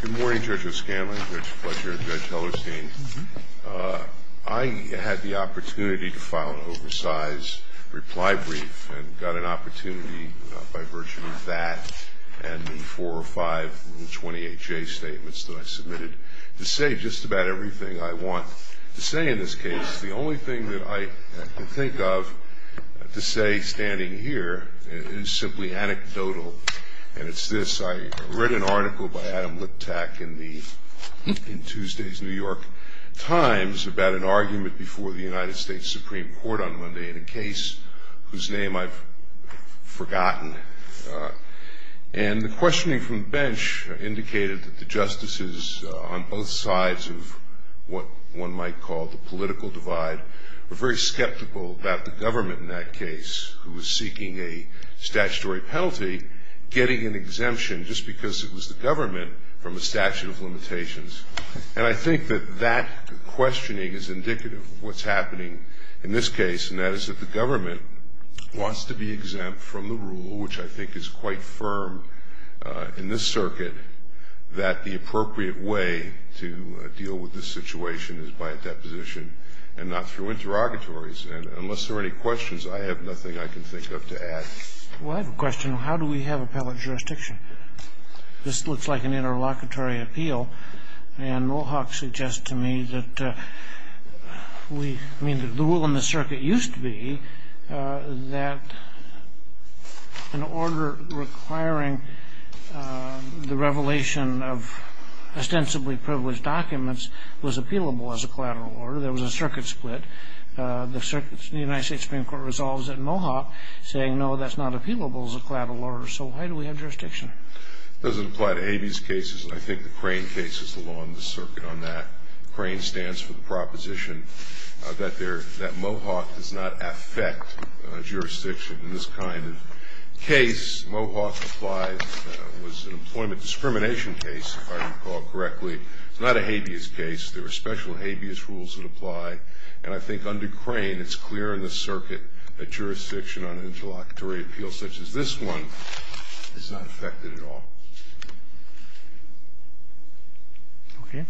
Good morning, Judge O'Scanlan, Judge Fletcher, and Judge Hellerstein. I had the opportunity to file an oversize reply brief and got an opportunity by virtue of that and the four or five 28J statements that I submitted to say just about everything I want to say in this case. The only thing that I can think of to say standing here is simply anecdotal, and it's this. I read an article by Adam Litak in Tuesday's New York Times about an argument before the United States Supreme Court on Monday in a case whose name I've forgotten. And the questioning from the bench indicated that the justices on both sides of what one might call the political divide were very skeptical about the government in that case who was seeking a statutory penalty getting an exemption just because it was the government from a statute of limitations. And I think that that questioning is indicative of what's happening in this case, and that is that the government wants to be exempt from the rule, which I think is quite firm in this circuit, that the appropriate way to deal with this situation is by a deposition and not through interrogatories. And unless there are any questions, I have nothing I can think of to add. Well, I have a question. How do we have appellate jurisdiction? This looks like an interlocutory appeal, and Mohawk suggests to me that we – I mean, the rule in the circuit used to be that an order requiring the revelation of ostensibly privileged documents was appealable as a collateral order. There was a circuit split. The United States Supreme Court resolves it in Mohawk, saying, no, that's not appealable as a collateral order. So why do we have jurisdiction? It doesn't apply to Habeas cases. I think the Crane case is the law in this circuit on that. Crane stands for the proposition that Mohawk does not affect jurisdiction in this kind of case. Mohawk applies – was an employment discrimination case, if I recall correctly. It's not a Habeas case. There are special Habeas rules that apply. And I think under Crane, it's clear in this circuit that jurisdiction on an interlocutory appeal such as this one is not affected at all. Okay.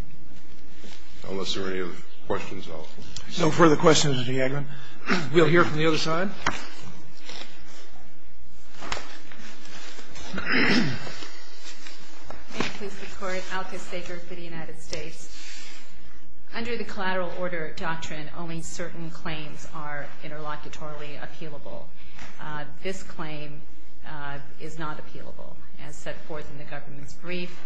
Unless there are any other questions, I'll stop. No further questions, Mr. Yadlin. We'll hear from the other side. May it please the Court. Alka Sager for the United States. Under the collateral order doctrine, only certain claims are interlocutory appealable. This claim is not appealable. As set forth in the government's brief,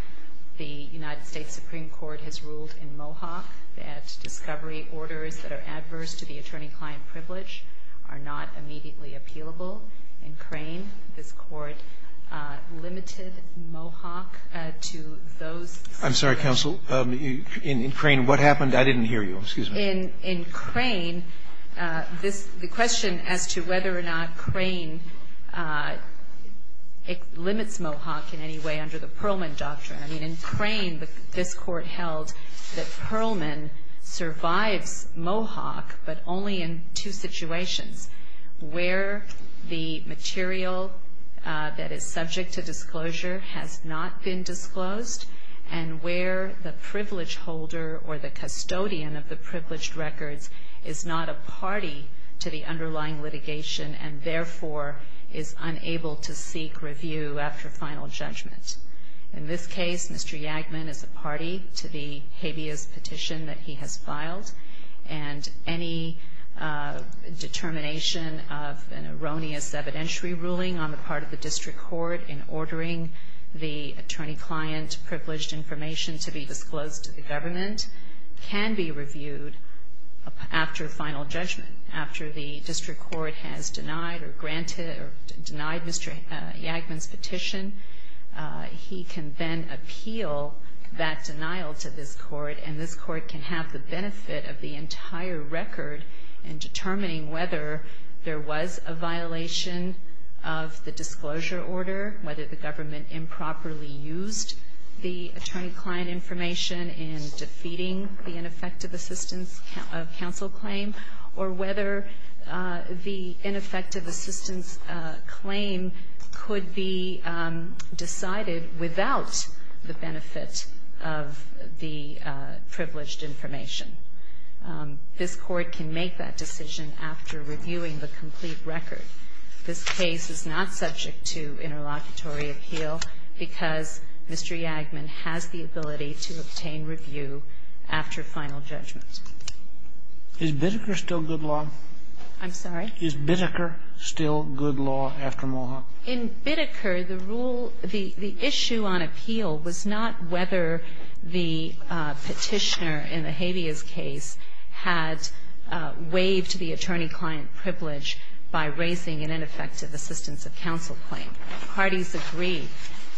the United States Supreme Court has ruled in Mohawk that discovery orders that are adverse to the attorney-client privilege are not immediately appealable. In Crane, this Court limited Mohawk to those. I'm sorry, counsel. In Crane, what happened? I didn't hear you. Excuse me. In Crane, the question as to whether or not Crane limits Mohawk in any way under the Perlman doctrine. I mean, in Crane, this Court held that Perlman survives Mohawk, but only in two situations, where the material that is subject to disclosure has not been disclosed and where the privilege holder or the custodian of the privileged records is not a party to the underlying litigation and, therefore, is unable to seek review after final judgment. In this case, Mr. Yadlin is a party to the habeas petition that he has filed, and any determination of an erroneous evidentiary ruling on the part of the district court in ordering the attorney-client privileged information to be disclosed to the government can be reviewed after final judgment. After the district court has denied or granted or denied Mr. Yadlin's petition, he can then appeal that denial to this court, and this court can have the benefit of the entire record in determining whether there was a violation of the disclosure order, whether the government improperly used the attorney-client information in defeating the ineffective assistance counsel claim, or whether the ineffective assistance claim could be decided without the benefit of the privileged information. This court can make that decision after reviewing the complete record. This case is not subject to interlocutory appeal because Mr. Yadlin has the ability to obtain review after final judgment. Is Biddeker still good law? I'm sorry? Is Biddeker still good law after Mohawk? In Biddeker, the rule, the issue on appeal was not whether the petitioner in the Habeas case had waived the attorney-client privilege by raising an ineffective assistance of counsel claim. Parties agreed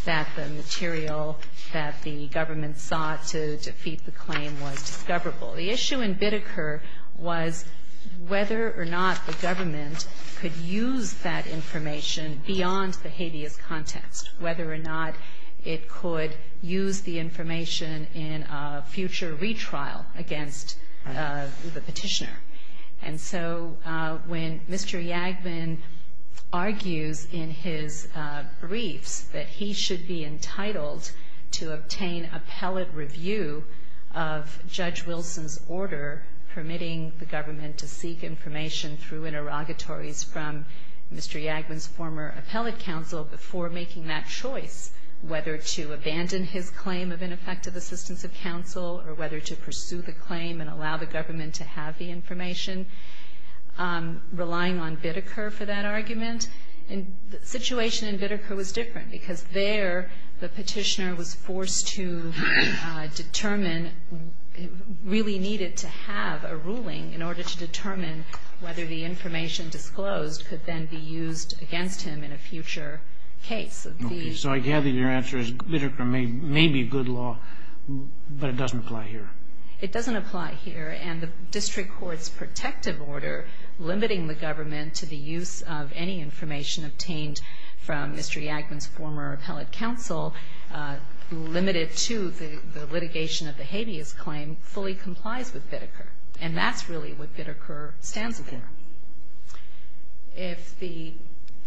that the material that the government sought to defeat the claim was discoverable. The issue in Biddeker was whether or not the government could use that information beyond the Habeas context, whether or not it could use the information in a future retrial against the petitioner. And so when Mr. Yadlin argues in his briefs that he should be entitled to obtain appellate review of Judge Wilson's order permitting the government to seek information through interrogatories from Mr. Yadlin's former appellate counsel before making that choice whether to abandon his claim of ineffective assistance of counsel or whether to pursue the claim and allow the government to have the information, relying on Biddeker for that argument, the situation in Biddeker was different because there the petitioner was forced to determine, really needed to have a ruling in order to determine whether the information disclosed could then be used against him in a future case. So I gather your answer is Biddeker may be good law, but it doesn't apply here. It doesn't apply here. And the district court's protective order limiting the government to the use of any of Mr. Yadlin's former appellate counsel, limited to the litigation of the habeas claim, fully complies with Biddeker. And that's really what Biddeker stands for. If the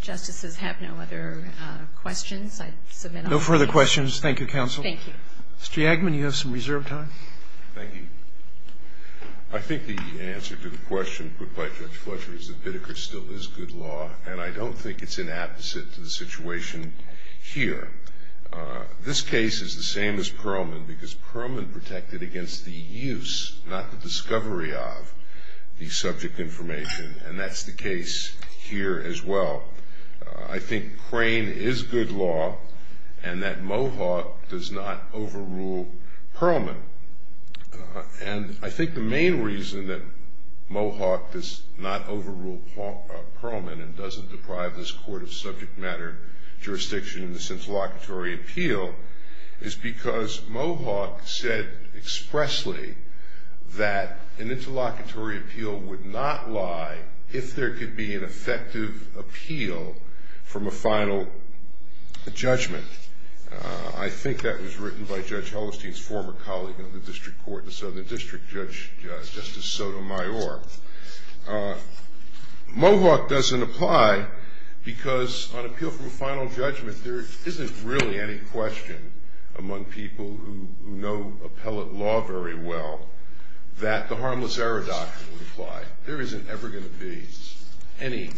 Justices have no other questions, I'd submit them. Roberts. No further questions. Thank you, Counsel. Thank you. Mr. Yadlin, you have some reserved time. Thank you. I think the answer to the question put by Judge Fletcher is that Biddeker still is good law, and I don't think it's inapposite to the situation here. This case is the same as Perlman because Perlman protected against the use, not the discovery of, the subject information. And that's the case here as well. I think Crane is good law and that Mohawk does not overrule Perlman. And I think the main reason that Mohawk does not overrule Perlman and doesn't deprive this court of subject matter jurisdiction in this interlocutory appeal is because Mohawk said expressly that an interlocutory appeal would not lie if there could be an effective appeal from a final judgment. I think that was written by Judge Hellestein's former colleague in the district court, the Southern District Judge, Justice Sotomayor. Mohawk doesn't apply because on appeal from a final judgment, there isn't really any question among people who know appellate law very well that the harmless error doctrine would apply. There isn't ever going to be any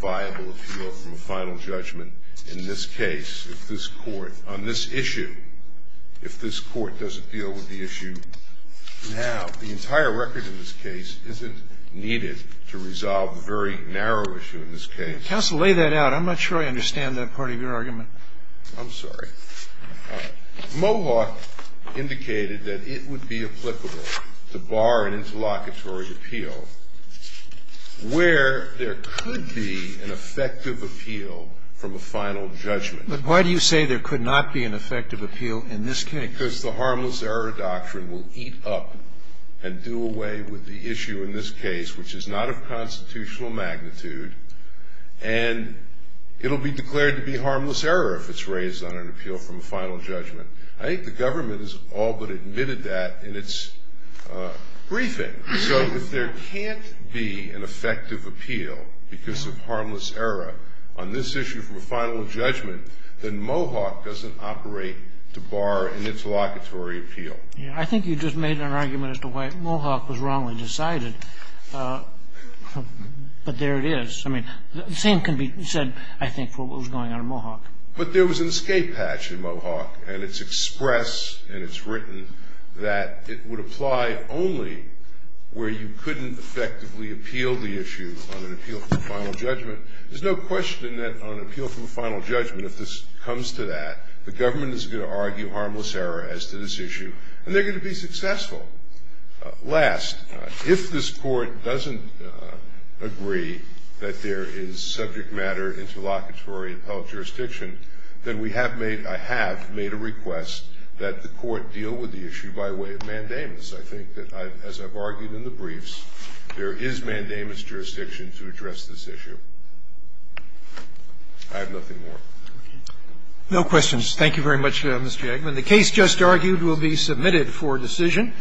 viable appeal from a final judgment in this case if this court, on this issue, if this court doesn't deal with the issue now. The entire record in this case isn't needed to resolve the very narrow issue in this case. Counsel, lay that out. I'm not sure I understand that part of your argument. I'm sorry. Mohawk indicated that it would be applicable to bar an interlocutory appeal where there could be an effective appeal from a final judgment. But why do you say there could not be an effective appeal in this case? Because the harmless error doctrine will eat up and do away with the issue in this case, which is not of constitutional magnitude, and it will be declared to be harmless error if it's raised on an appeal from a final judgment. I think the government has all but admitted that in its briefing. So if there can't be an effective appeal because of harmless error on this issue from a final judgment, then Mohawk doesn't operate to bar an interlocutory appeal. I think you just made an argument as to why Mohawk was wrongly decided, but there it is. I mean, the same can be said, I think, for what was going on in Mohawk. But there was an escape hatch in Mohawk, and it's expressed and it's written that it would apply only where you couldn't effectively appeal the issue on an appeal from a final judgment. There's no question that on an appeal from a final judgment, if this comes to that, the government is going to argue harmless error as to this issue, and they're going to be successful. Last, if this Court doesn't agree that there is subject matter interlocutory appellate jurisdiction, then we have made, I have made a request that the Court deal with the issue by way of mandamus. I think that, as I've argued in the briefs, there is mandamus jurisdiction to address this issue. I have nothing more. No questions. Thank you very much, Mr. Eggman. The case just argued will be submitted for decision.